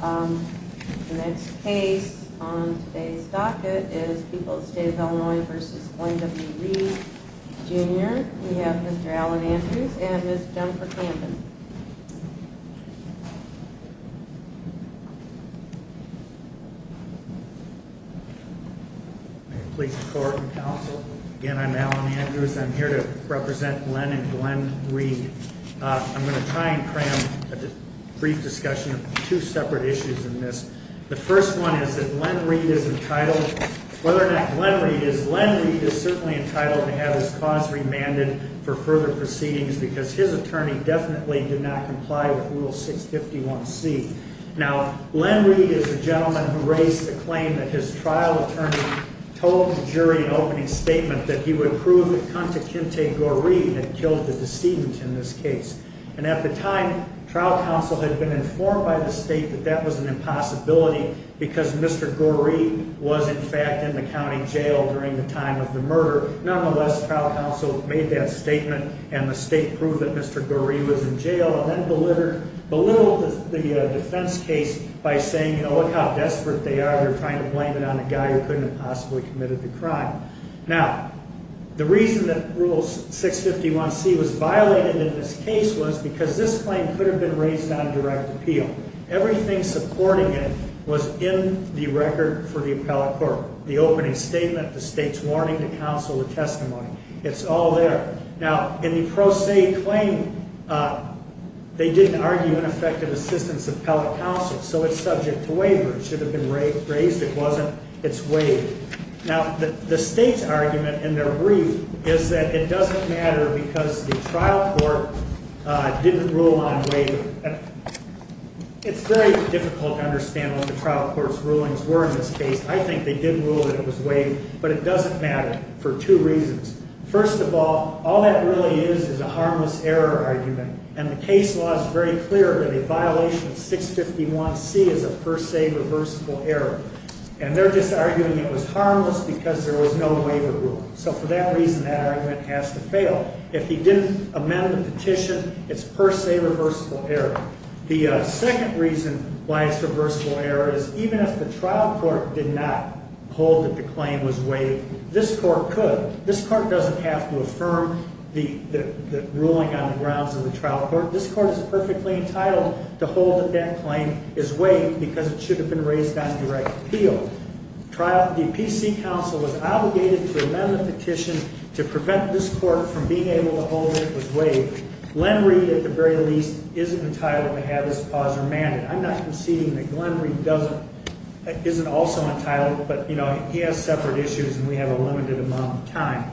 The next case on today's docket is People's State of Illinois v. Glenn W. Reed, Jr. We have Mr. Alan Andrews and Ms. Jennifer Camden. Please support and counsel. Again, I'm Alan Andrews. I'm here to represent Glenn and Glenn Reed. I'm going to try and cram a brief discussion of two separate issues in this. The first one is that Glenn Reed is entitled to have his cause remanded for further proceedings because his attorney definitely did not comply with Rule 651C. Now, Glenn Reed is a gentleman who raised the claim that his trial attorney told the jury in an opening statement that he would prove that Contekinte Goree had killed the decedent in this case. And at the time, trial counsel had been informed by the state that that was an impossibility because Mr. Goree was in fact in the county jail during the time of the murder. Nonetheless, trial counsel made that statement and the state proved that Mr. Goree was in jail and then belittled the defense case by saying, you know, look how desperate they are. They're trying to blame it on a guy who couldn't have possibly committed the crime. Now, the reason that Rule 651C was violated in this case was because this claim could have been raised on direct appeal. Everything supporting it was in the record for the appellate court. The opening statement, the state's warning to counsel the testimony, it's all there. Now, in the pro se claim, they didn't argue ineffective assistance of appellate counsel, so it's subject to waiver. It should have been raised. It wasn't. It's waived. Now, the state's argument in their brief is that it doesn't matter because the trial court didn't rule on waiver. It's very difficult to understand what the trial court's rulings were in this case. I think they did rule that it was waived, but it doesn't matter for two reasons. First of all, all that really is is a harmless error argument, and the case law is very clear that a violation of 651C is a per se reversible error. And they're just arguing it was harmless because there was no waiver rule. So for that reason, that argument has to fail. If he didn't amend the petition, it's per se reversible error. The second reason why it's reversible error is even if the trial court did not hold that the claim was waived, this court could. This court doesn't have to affirm the ruling on the grounds of the trial court. This court is perfectly entitled to hold that that claim is waived because it should have been raised on direct appeal. The PC counsel was obligated to amend the petition to prevent this court from being able to hold that it was waived. Glen Reed, at the very least, isn't entitled to have this clause remanded. I'm not conceding that Glen Reed isn't also entitled, but he has separate issues and we have a limited amount of time.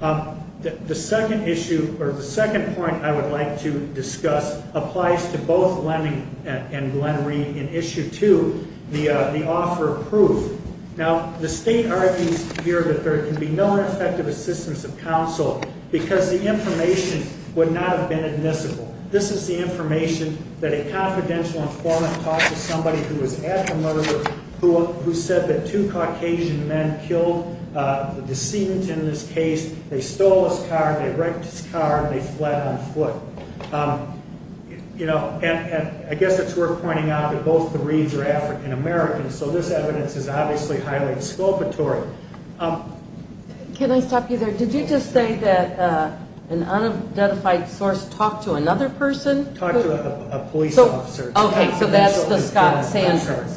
The second point I would like to discuss applies to both Leming and Glen Reed in Issue 2, the offer of proof. Now, the state argues here that there can be no effective assistance of counsel because the information would not have been admissible. This is the information that a confidential informant talked to somebody who was at the murder, who said that two Caucasian men killed the decedent in this case. They stole his car, they wrecked his car, and they fled on foot. I guess it's worth pointing out that both the Reeds are African American, so this evidence is obviously highly exculpatory. Can I stop you there? Did you just say that an unidentified source talked to another person? Talked to a police officer. Okay, so that's the Scott Sandridge?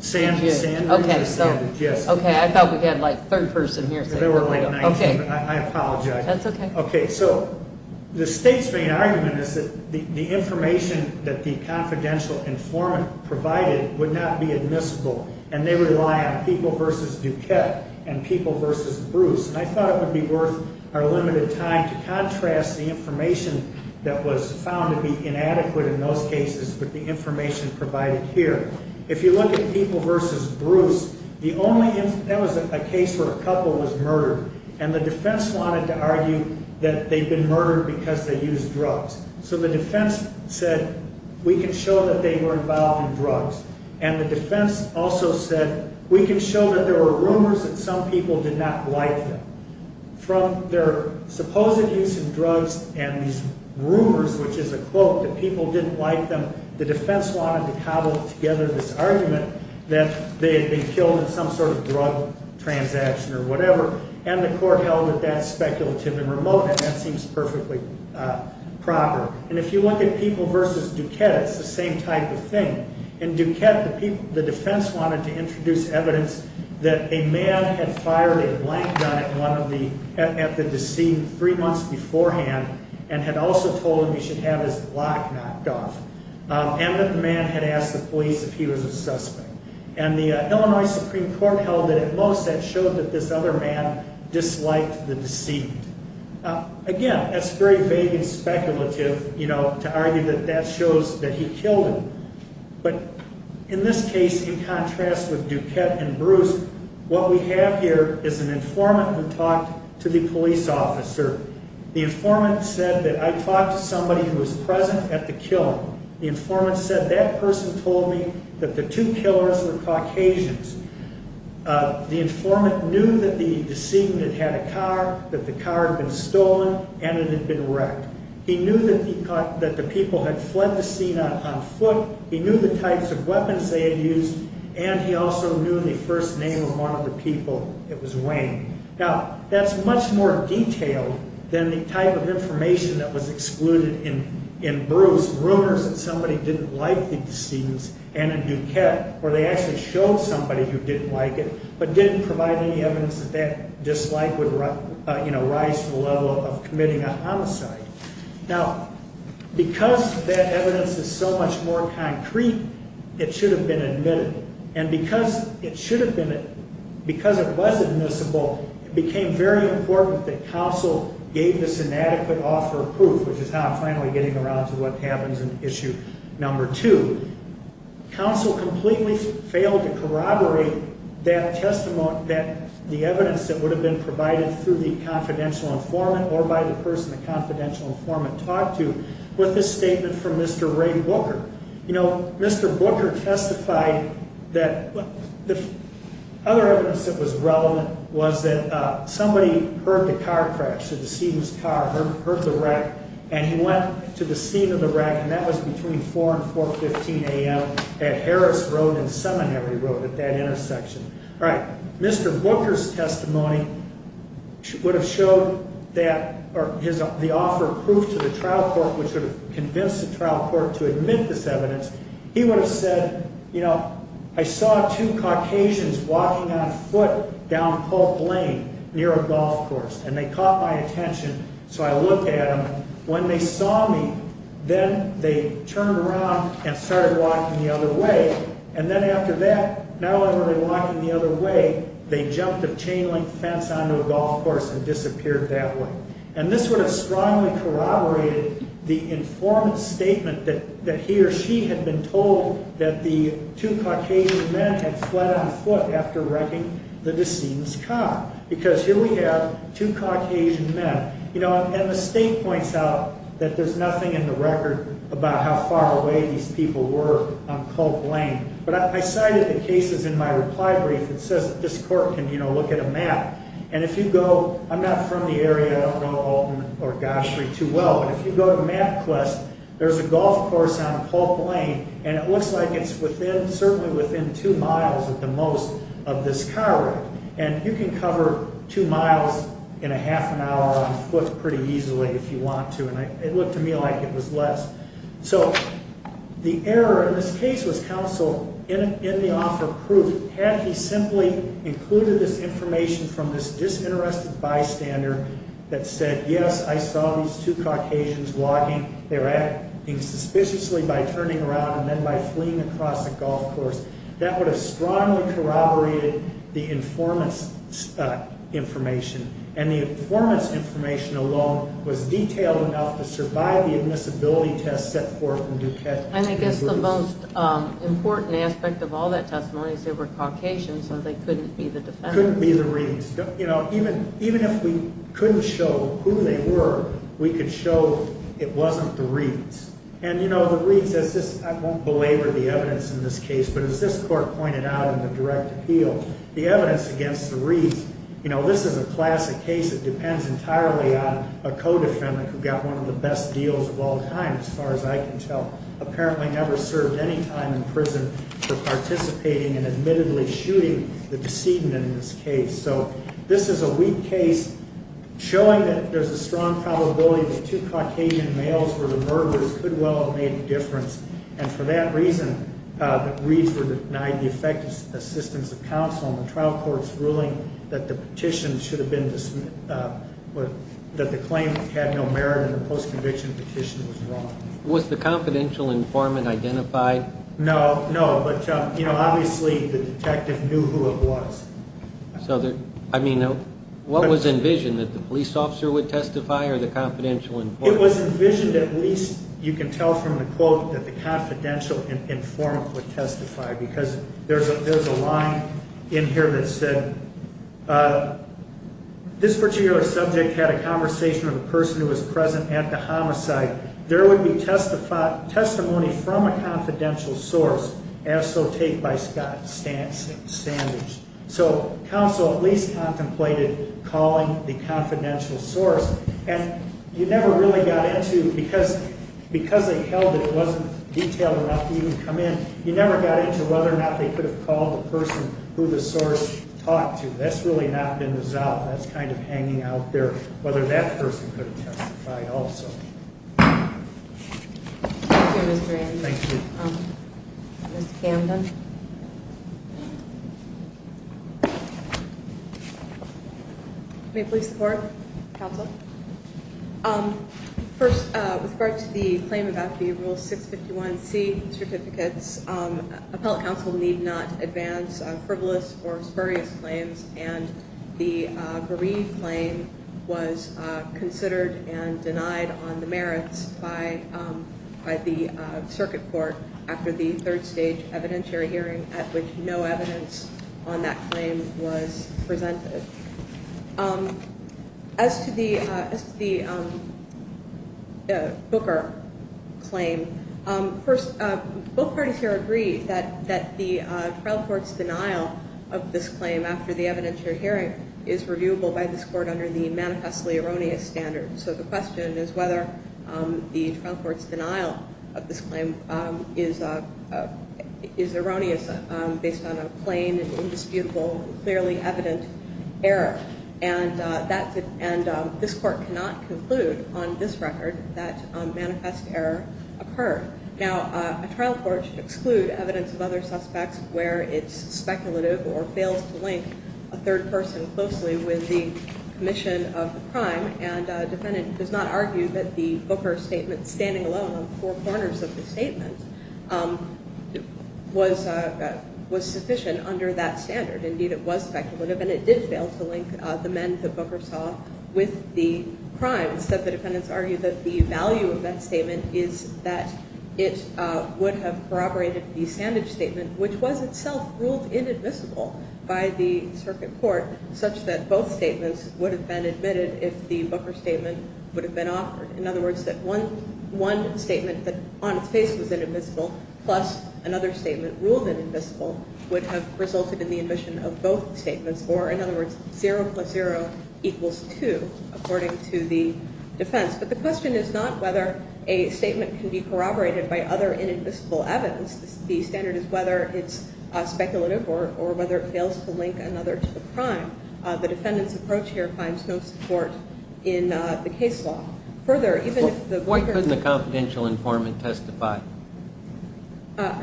Sandridge, yes. Okay, I thought we had like a third person here. There were like 19, but I apologize. That's okay. Okay, so the state's main argument is that the information that the confidential informant provided would not be admissible, and they rely on People v. Duquette and People v. Bruce. And I thought it would be worth our limited time to contrast the information that was found to be inadequate in those cases with the information provided here. If you look at People v. Bruce, that was a case where a couple was murdered, and the defense wanted to argue that they'd been murdered because they used drugs. So the defense said, we can show that they were involved in drugs. And the defense also said, we can show that there were rumors that some people did not like them. From their supposed use of drugs and these rumors, which is a quote, that people didn't like them, the defense wanted to cobble together this argument that they had been killed in some sort of drug transaction or whatever, and the court held that that's speculative and remote, and that seems perfectly proper. And if you look at People v. Duquette, it's the same type of thing. In Duquette, the defense wanted to introduce evidence that a man had fired a blank gun at the deceased three months beforehand and had also told him he should have his lock knocked off, and that the man had asked the police if he was a suspect. And the Illinois Supreme Court held that at most that showed that this other man disliked the deceit. Again, that's very vague and speculative, you know, to argue that that shows that he killed him. But in this case, in contrast with Duquette and Bruce, what we have here is an informant who talked to the police officer. The informant said that I talked to somebody who was present at the killing. The informant said that person told me that the two killers were Caucasians. The informant knew that the decedent had had a car, that the car had been stolen, and it had been wrecked. He knew that the people had fled the scene on foot, he knew the types of weapons they had used, and he also knew the first name of one of the people. It was Wayne. Now, that's much more detailed than the type of information that was excluded in Bruce. Rumors that somebody didn't like the decedents, and in Duquette, where they actually showed somebody who didn't like it, but didn't provide any evidence that that dislike would rise to the level of committing a homicide. Now, because that evidence is so much more concrete, it should have been admitted. And because it should have been, because it was admissible, it became very important that counsel gave this inadequate author proof, which is how I'm finally getting around to what happens in issue number two. Counsel completely failed to corroborate that testimony, the evidence that would have been provided through the confidential informant or by the person the confidential informant talked to with this statement from Mr. Ray Booker. You know, Mr. Booker testified that the other evidence that was relevant was that somebody heard the car crash, the decedent's car, heard the wreck, and he went to the scene of the wreck, and that was between 4 and 4.15 a.m. at Harris Road and Seminary Road at that intersection. All right, Mr. Booker's testimony would have showed that, or the author of proof to the trial court which would have convinced the trial court to admit this evidence, he would have said, you know, I saw two Caucasians walking on foot down Polk Lane near a golf course, and they caught my attention, so I looked at them. When they saw me, then they turned around and started walking the other way, and then after that, not only were they walking the other way, they jumped a chain link fence onto a golf course and disappeared that way. And this would have strongly corroborated the informant's statement that he or she had been told that the two Caucasian men had fled on foot after wrecking the decedent's car, because here we have two Caucasian men. You know, and the state points out that there's nothing in the record about how far away these people were on Polk Lane, but I cited the cases in my reply brief that says that this court can, you know, look at a map, and if you go, I'm not from the area, I don't know Alton or Goshree too well, but if you go to MapQuest, there's a golf course on Polk Lane, and it looks like it's within, certainly within two miles at the most of this car wreck, and you can cover two miles in a half an hour on foot pretty easily if you want to, and it looked to me like it was less. So the error in this case was counsel in the author of proof, had he simply included this information from this disinterested bystander that said, yes, I saw these two Caucasians walking. They were acting suspiciously by turning around and then by fleeing across the golf course. That would have strongly corroborated the informant's information, and the informant's information alone was detailed enough to survive the admissibility test set forth in Duquette. And I guess the most important aspect of all that testimony is they were Caucasians, so they couldn't be the defendants. Couldn't be the Reeds. You know, even if we couldn't show who they were, we could show it wasn't the Reeds. And, you know, the Reeds, as this, I won't belabor the evidence in this case, but as this court pointed out in the direct appeal, the evidence against the Reeds, you know, this is a classic case that depends entirely on a co-defendant who got one of the best deals of all time, as far as I can tell, apparently never served any time in prison for participating in admittedly shooting the decedent in this case. So this is a weak case showing that there's a strong probability that two Caucasian males were the murderers could well have made a difference. And for that reason, the Reeds were denied the effective assistance of counsel in the trial court's ruling that the petition should have been, that the claim had no merit in the post-conviction petition was wrong. Was the confidential informant identified? No, no. But, you know, obviously the detective knew who it was. So, I mean, what was envisioned, that the police officer would testify or the confidential informant? It was envisioned at least, you can tell from the quote, that the confidential informant would testify because there's a line in here that said, this particular subject had a conversation with a person who was present at the homicide. There would be testimony from a confidential source, as so take by Scott Standage. So counsel at least contemplated calling the confidential source. And you never really got into, because they held it, it wasn't detailed enough to even come in, you never got into whether or not they could have called the person who the source talked to. That's really not been resolved. That's kind of hanging out there, whether that person could have testified also. Thank you, Mr. Anderson. Thank you. Ms. Camden. May police support? Counsel? First, with regard to the claim about the Rule 651C certificates, appellate counsel need not advance frivolous or spurious claims, and the bereaved claim was considered and denied on the merits by the circuit court after the third stage evidentiary hearing at which no evidence on that claim was presented. As to the Booker claim, both parties here agree that the trial court's denial of this claim after the evidentiary hearing is reviewable by this court under the manifestly erroneous standard. So the question is whether the trial court's denial of this claim is erroneous based on a plain, indisputable, clearly evident error, and this court cannot conclude on this record that manifest error occurred. Now, a trial court should exclude evidence of other suspects where it's speculative or fails to link a third person closely with the commission of the crime, and a defendant does not argue that the Booker statement, standing alone on four corners of the statement, was sufficient under that standard. Indeed, it was speculative, and it did fail to link the men that Booker saw with the crime. Instead, the defendants argued that the value of that statement is that it would have corroborated the Sandage statement, which was itself ruled inadmissible by the circuit court, such that both statements would have been admitted if the Booker statement would have been offered. In other words, that one statement that on its face was inadmissible plus another statement ruled inadmissible would have resulted in the admission of both statements, or in other words, 0 plus 0 equals 2, according to the defense. But the question is not whether a statement can be corroborated by other inadmissible evidence. The standard is whether it's speculative or whether it fails to link another to the crime. The defendant's approach here finds no support in the case law. Why couldn't the confidential informant testify?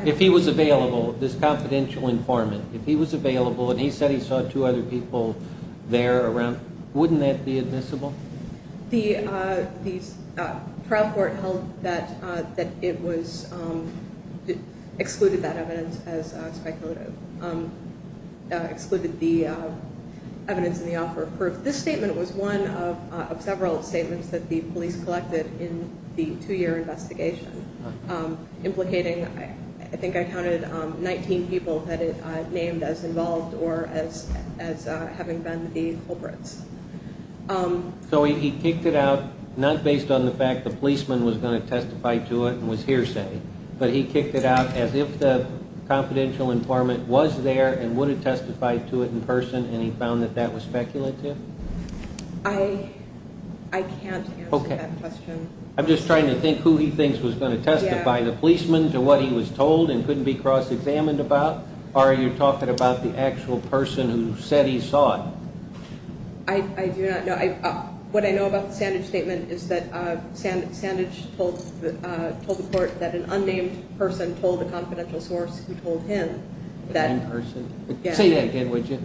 If he was available, this confidential informant, if he was available and he said he saw two other people there around, wouldn't that be admissible? The trial court held that it excluded that evidence as speculative, excluded the evidence in the offer of proof. This statement was one of several statements that the police collected in the two-year investigation, implicating I think I counted 19 people that it named as involved or as having been the culprits. So he kicked it out not based on the fact the policeman was going to testify to it and was hearsay, but he kicked it out as if the confidential informant was there and would have testified to it in person and he found that that was speculative? I can't answer that question. I'm just trying to think who he thinks was going to testify, the policeman, to what he was told and couldn't be cross-examined about, or are you talking about the actual person who said he saw it? I do not know. What I know about the Sandage statement is that Sandage told the court that an unnamed person told the confidential source who told him that. Say that again, would you?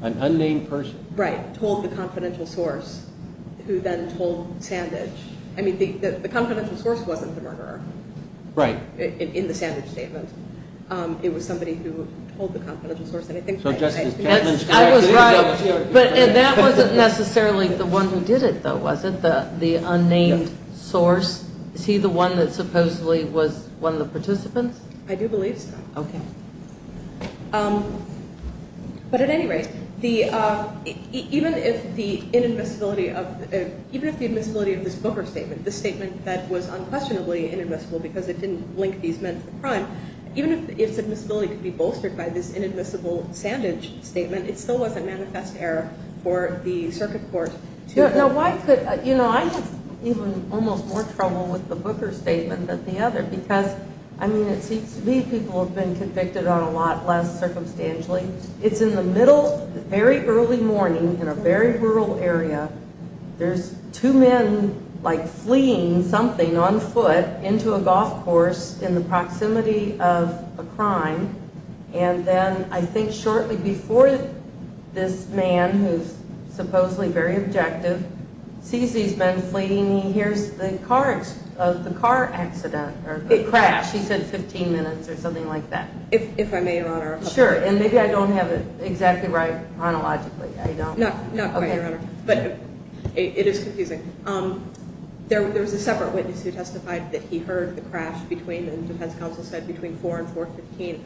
An unnamed person? Right, told the confidential source who then told Sandage. I mean, the confidential source wasn't the murderer in the Sandage statement. It was somebody who told the confidential source. I was right, but that wasn't necessarily the one who did it, though, was it, the unnamed source? Is he the one that supposedly was one of the participants? I do believe so. Okay. But at any rate, even if the inadmissibility of this Booker statement, the statement that was unquestionably inadmissible because it didn't link these men to the crime, even if its admissibility could be bolstered by this inadmissible Sandage statement, I have even almost more trouble with the Booker statement than the other because, I mean, it seems to me people have been convicted on a lot less circumstantially. It's in the middle, very early morning in a very rural area. There's two men like fleeing something on foot into a golf course in the proximity of a crime, and then I think shortly before this man, who's supposedly very objective, sees these men fleeing, he hears the car accident or the crash. He said 15 minutes or something like that. If I may, Your Honor. Sure, and maybe I don't have it exactly right chronologically. Not quite, Your Honor, but it is confusing. There was a separate witness who testified that he heard the crash between, as the defense counsel said, between 4 and 4.15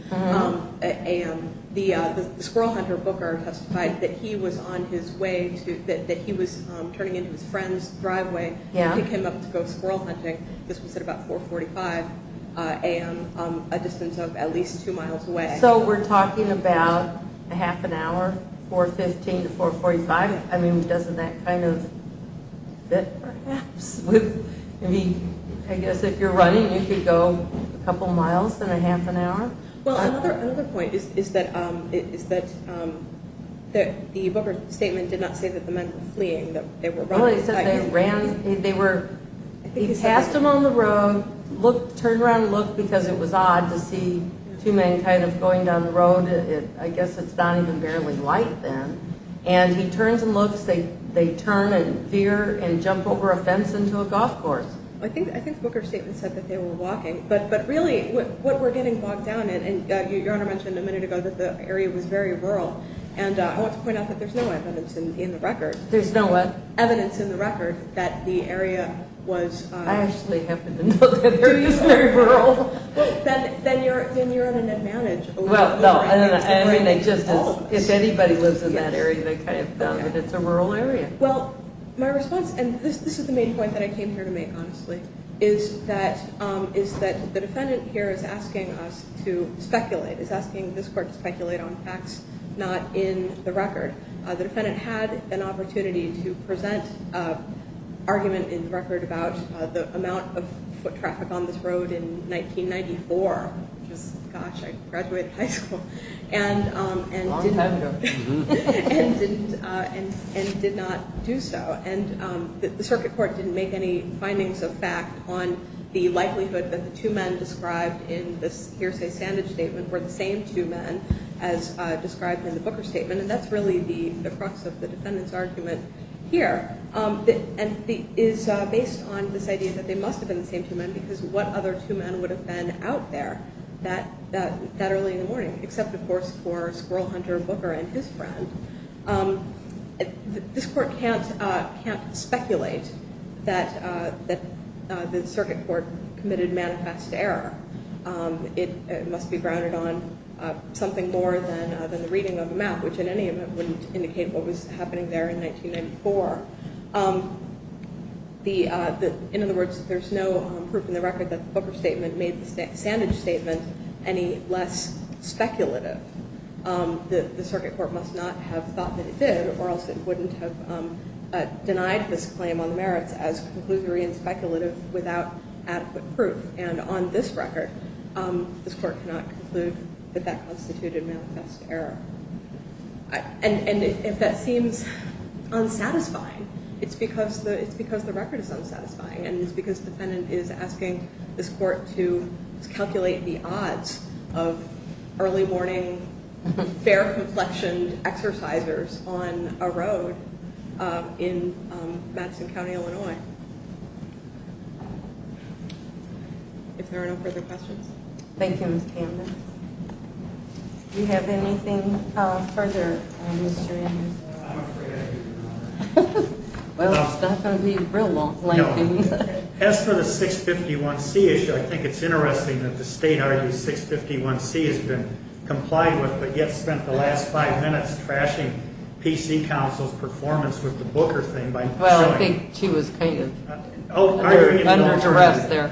a.m. The squirrel hunter, Booker, testified that he was on his way to, that he was turning into his friend's driveway to pick him up to go squirrel hunting. This was at about 4.45 a.m., a distance of at least two miles away. So we're talking about a half an hour, 4.15 to 4.45? I mean, doesn't that kind of fit perhaps? I guess if you're running, you could go a couple miles in a half an hour. Well, another point is that the Booker statement did not say that the men were fleeing, that they were running. Well, it said they ran, they were, he passed them on the road, turned around and looked because it was odd to see two men kind of going down the road. I guess it's not even barely light then. And he turns and looks. They turn and veer and jump over a fence into a golf course. I think Booker's statement said that they were walking, but really what we're getting bogged down in, and Your Honor mentioned a minute ago that the area was very rural, and I want to point out that there's no evidence in the record. There's no what? Evidence in the record that the area was... I actually happen to know that they're just very rural. Then you're at an advantage. If anybody lives in that area, they kind of know that it's a rural area. Well, my response, and this is the main point that I came here to make, honestly, is that the defendant here is asking us to speculate, is asking this Court to speculate on facts not in the record. The defendant had an opportunity to present an argument in the record about the amount of foot traffic on this road in 1994. Gosh, I graduated high school. Long time ago. And did not do so, and the Circuit Court didn't make any findings of fact on the likelihood that the two men described in this hearsay-sandage statement were the same two men as described in the Booker statement, and that's really the crux of the defendant's argument here, and is based on this idea that they must have been the same two men because what other two men would have been out there that early in the morning, except, of course, for Squirrel Hunter Booker and his friend? This Court can't speculate that the Circuit Court committed manifest error. It must be grounded on something more than the reading of the map, which in any event wouldn't indicate what was happening there in 1994. In other words, there's no proof in the record that the Booker statement made the sandage statement any less speculative. The Circuit Court must not have thought that it did, or else it wouldn't have denied this claim on the merits as conclusory and speculative without adequate proof. And on this record, this Court cannot conclude that that constituted manifest error. And if that seems unsatisfying, it's because the record is unsatisfying, and it's because the defendant is asking this Court to calculate the odds of early-morning, fair-complexioned exercisers on a road in Madison County, Illinois. If there are no further questions. Thank you, Ms. Camden. Do you have anything further, Mr. Anderson? I'm afraid I do not. Well, it's not going to be real long. No. As for the 651C issue, I think it's interesting that the State argues 651C has been complied with, but yet spent the last five minutes trashing PC Council's performance with the Booker thing by not showing it. Well, I think she was kind of under duress there.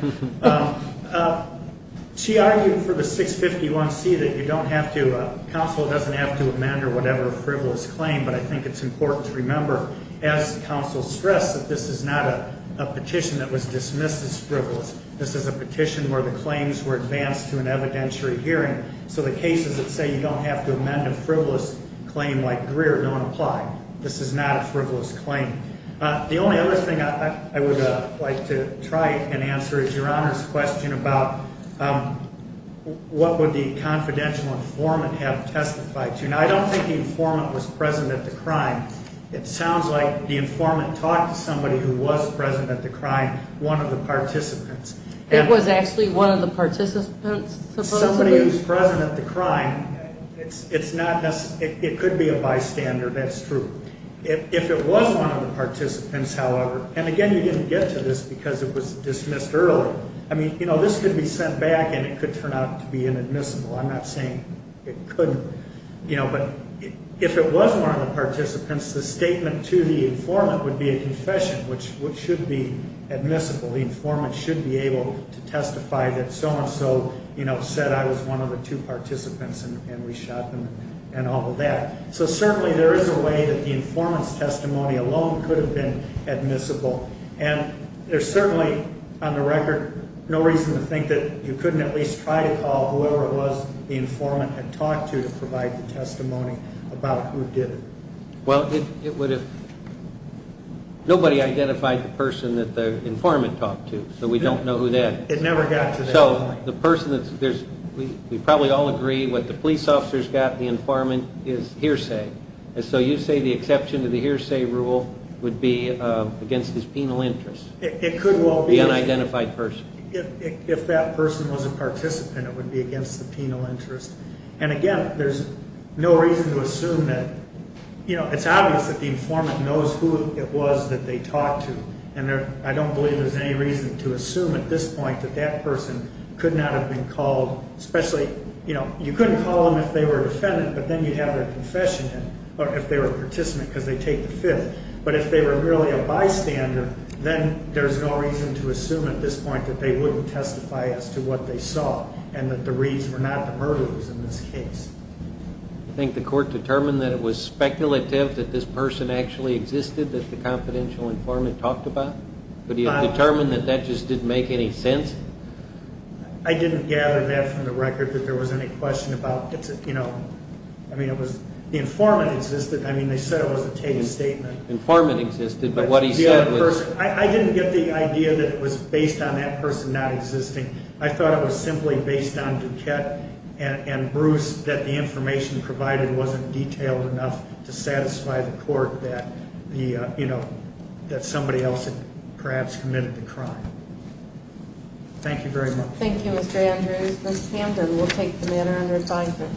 She argued for the 651C that you don't have to, Council doesn't have to amend or whatever a frivolous claim, but I think it's important to remember, as Council stressed, that this is not a petition that was dismissed as frivolous. This is a petition where the claims were advanced to an evidentiary hearing, so the cases that say you don't have to amend a frivolous claim like Greer don't apply. This is not a frivolous claim. The only other thing I would like to try and answer is Your Honor's question about what would the confidential informant have testified to. Now, I don't think the informant was present at the crime. It sounds like the informant talked to somebody who was present at the crime, one of the participants. It was actually one of the participants? Somebody who was present at the crime. It could be a bystander. That's true. If it was one of the participants, however, and, again, you didn't get to this because it was dismissed early. I mean, you know, this could be sent back and it could turn out to be inadmissible. I'm not saying it couldn't, you know, but if it was one of the participants, the statement to the informant would be a confession, which should be admissible. The informant should be able to testify that so-and-so, you know, said I was one of the two participants and we shot them and all of that. So certainly there is a way that the informant's testimony alone could have been admissible. And there's certainly, on the record, no reason to think that you couldn't at least try to call whoever it was the informant had talked to to provide the testimony about who did it. Well, it would have ñ nobody identified the person that the informant talked to, so we don't know who that is. It never got to that point. So the person that's ñ we probably all agree what the police officer's got, the informant, is hearsay. So you say the exception to the hearsay rule would be against his penal interest. It could well be. The unidentified person. If that person was a participant, it would be against the penal interest. And again, there's no reason to assume that, you know, it's obvious that the informant knows who it was that they talked to, and I don't believe there's any reason to assume at this point that that person could not have been called, especially, you know, you couldn't call them if they were a defendant, but then you'd have their confession in if they were a participant because they take the fifth. But if they were merely a bystander, then there's no reason to assume at this point that they wouldn't testify as to what they saw and that the reads were not the murderers in this case. Do you think the court determined that it was speculative that this person actually existed that the confidential informant talked about? But do you determine that that just didn't make any sense? I didn't gather that from the record that there was any question about, you know, I mean, it was the informant existed. I mean, they said it was a taken statement. The informant existed, but what he said was... I didn't get the idea that it was based on that person not existing. I thought it was simply based on Duquette and Bruce, that the information provided wasn't detailed enough to satisfy the court that, you know, that somebody else had perhaps committed the crime. Thank you very much. Thank you, Mr. Andrews. Ms. Hamden, we'll take the matter under advisement.